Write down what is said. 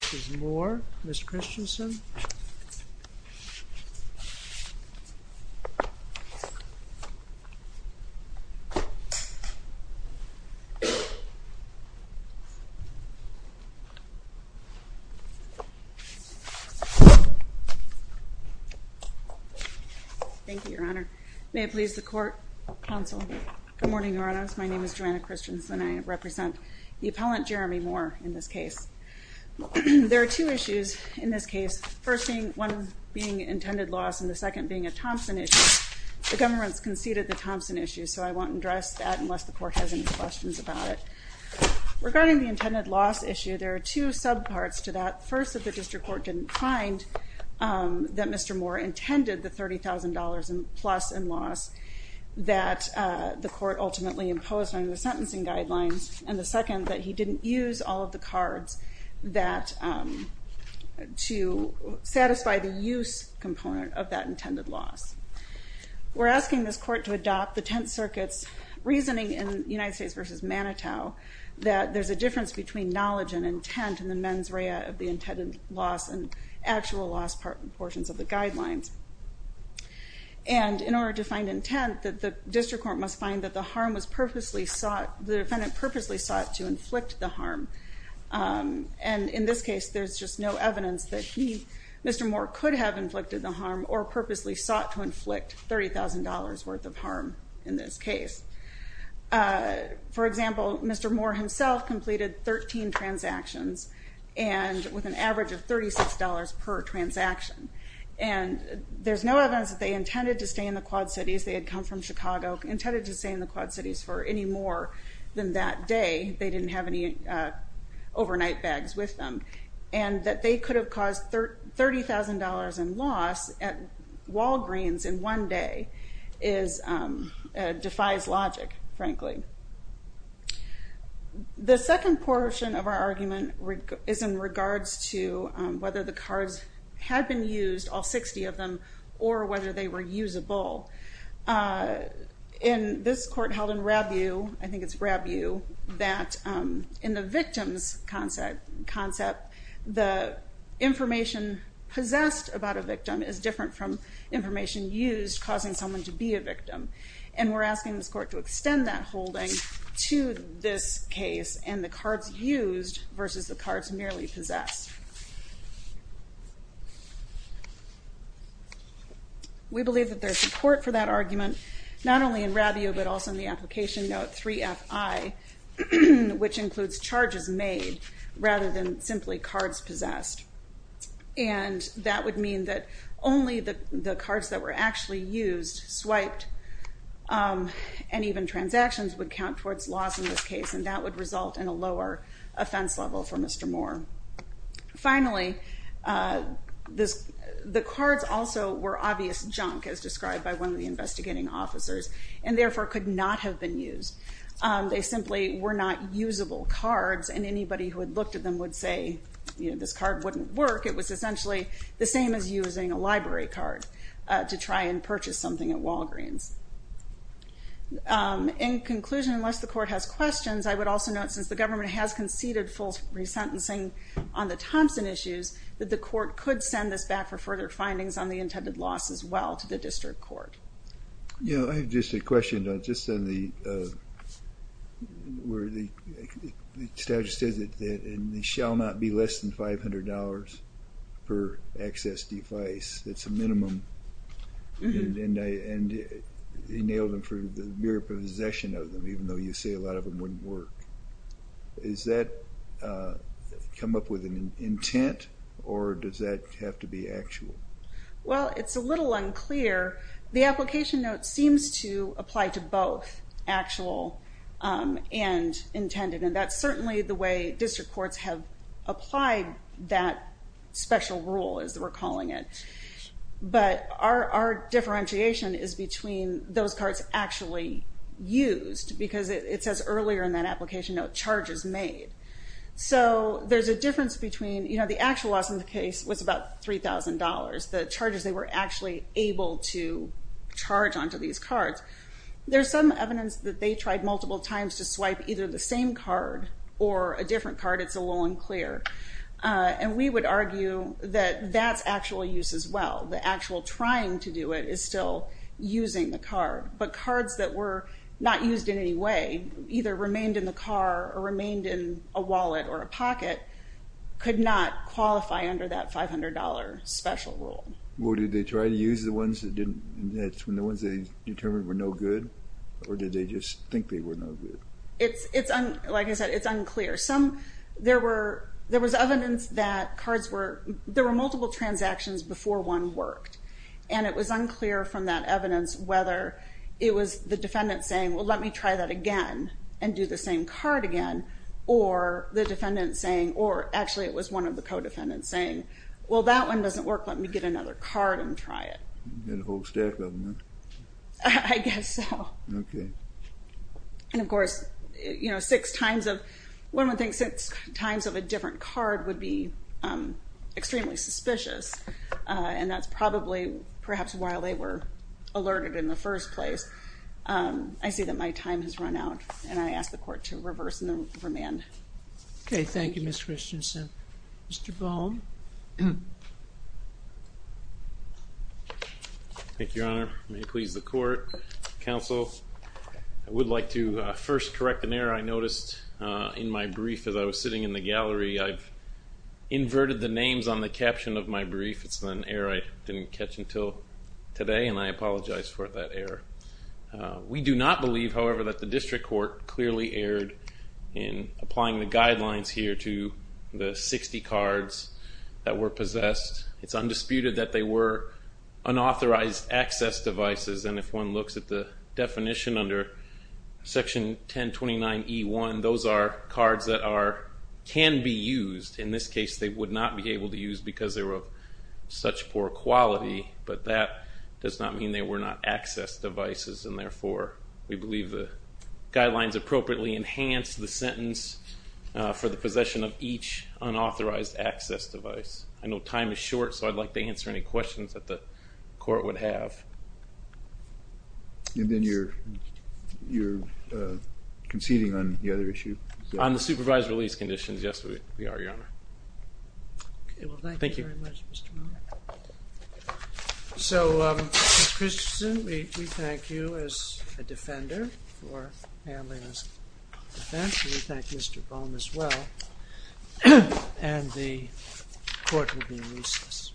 This is Moore, Ms. Christensen. Thank you, Your Honor. May it please the Court, Counsel. Good morning, Your Honors. My name is Joanna Christensen. I represent the appellant, Jerame Moore, in this case. There are two issues in this case, first being one being intended loss and the second being a Thompson issue. The government's conceded the Thompson issue, so I won't address that unless the Court has any questions about it. Regarding the intended loss issue, there are two subparts to that. First, that the District Court didn't find that Mr. Moore intended the $30,000 plus in loss that the Court ultimately imposed on the sentencing guidelines, and the second, that he didn't use all of the cards to satisfy the use component of that intended loss. We're asking this Court to adopt the Tenth Circuit's reasoning in United States v. Manitow that there's a difference between knowledge and intent in the mens rea of the intended loss and actual loss portions of the guidelines. And in order to find intent, the District Court must find that the harm was purposely sought, the defendant purposely sought to inflict the harm. And in this case, there's just no evidence that he, Mr. Moore, could have inflicted the harm or purposely sought to inflict $30,000 worth of harm in this case. For example, Mr. Moore himself completed 13 transactions and with an average of $36 per transaction. And there's no evidence that they intended to stay in the Quad Cities, they had come from Chicago, intended to stay in the Quad Cities for any more than that day. They didn't have any overnight bags with them. And that they could have caused $30,000 in loss at Walgreens in one day defies logic, frankly. The second portion of our argument is in regards to whether the cards had been used, all 60 of them, or whether they were usable. In this court held in Rabu, I think it's Rabu, that in the victims concept, the information possessed about a victim is different from information used causing someone to be a victim. And we're asking this court to extend that holding to this case and the cards used versus the cards merely possessed. We believe that there's support for that argument not only in Rabu but also in the application note 3FI which includes charges made rather than simply cards possessed. And that would mean that only the cards that were actually used, swiped and even transactions would count towards loss in this case and that would result in a lower offense level for Mr. Moore. Finally, the cards also were obvious junk as described by one of the investigating officers and therefore could not have been used. They simply were not usable cards and anybody who had looked at them would say this card wouldn't work. It was essentially the same as using a library card to try and purchase something at Walgreens. In conclusion, unless the court has questions, I would also note since the government has on the Thompson issues that the court could send this back for further findings on the intended loss as well to the district court. I have just a question on the where the statute says that it shall not be less than $500 per access device. That's a minimum and they nailed them for the mere possession of them even though you say a lot of them wouldn't work. Is that come up with an intent or does that have to be actual? Well, it's a little unclear. The application note seems to apply to both actual and intended and that's certainly the way district courts have applied that special rule as we're calling it, but our differentiation is between those cards actually used because it says earlier in that application note charges made. There's a difference between the actual loss in the case was about $3,000. The charges they were actually able to charge onto these cards. There's some evidence that they tried multiple times to swipe either the same card or a different card. It's a little unclear. We would argue that that's actual use as well. The actual trying to do it is still using the card, but the cards that were not used in any way, either remained in the car or remained in a wallet or a pocket, could not qualify under that $500 special rule. Well, did they try to use the ones that they determined were no good or did they just think they were no good? Like I said, it's unclear. There was evidence that cards were, there were multiple transactions before one worked and it was unclear from that evidence whether it was the defendant saying, well let me try that again and do the same card again, or the defendant saying, or actually it was one of the co-defendants saying, well that one doesn't work, let me get another card and try it. You had a whole stack of them, huh? I guess so. Okay. And of course, you know, six times of, one would think six times of a different card would be extremely suspicious and that's probably perhaps why they were alerted in the first place. I see that my time has run out and I ask the Court to reverse and remand. Okay, thank you Ms. Christensen. Mr. Baum? Thank you, Your Honor. May it please the Court. Counsel, I would like to first correct an error I noticed in my brief as I was sitting in the gallery. I've inverted the names on the caption of my brief. It's an error I didn't catch until today and I apologize for that error. We do not believe, however, that the District Court clearly erred in applying the guidelines here to the 60 cards that were possessed. It's undisputed that they were unauthorized access devices and if one looks at the definition under section 1029E1, those are cards that can be used. In this case, they would not be able to use because they were of such poor quality, but that does not mean they were not access devices and therefore we believe the guidelines appropriately enhance the sentence for the possession of each unauthorized access device. I know time is short so I'd like to answer any questions that the Court would have. And then you're conceding on the other issue? On the supervised release conditions, yes we are, Your Honor. Thank you very much, Mr. Bone. So, Mr. Christensen, we thank you as a defender for handling this defense and we thank Mr. Bone as well and the Court will be in recess. Thank you.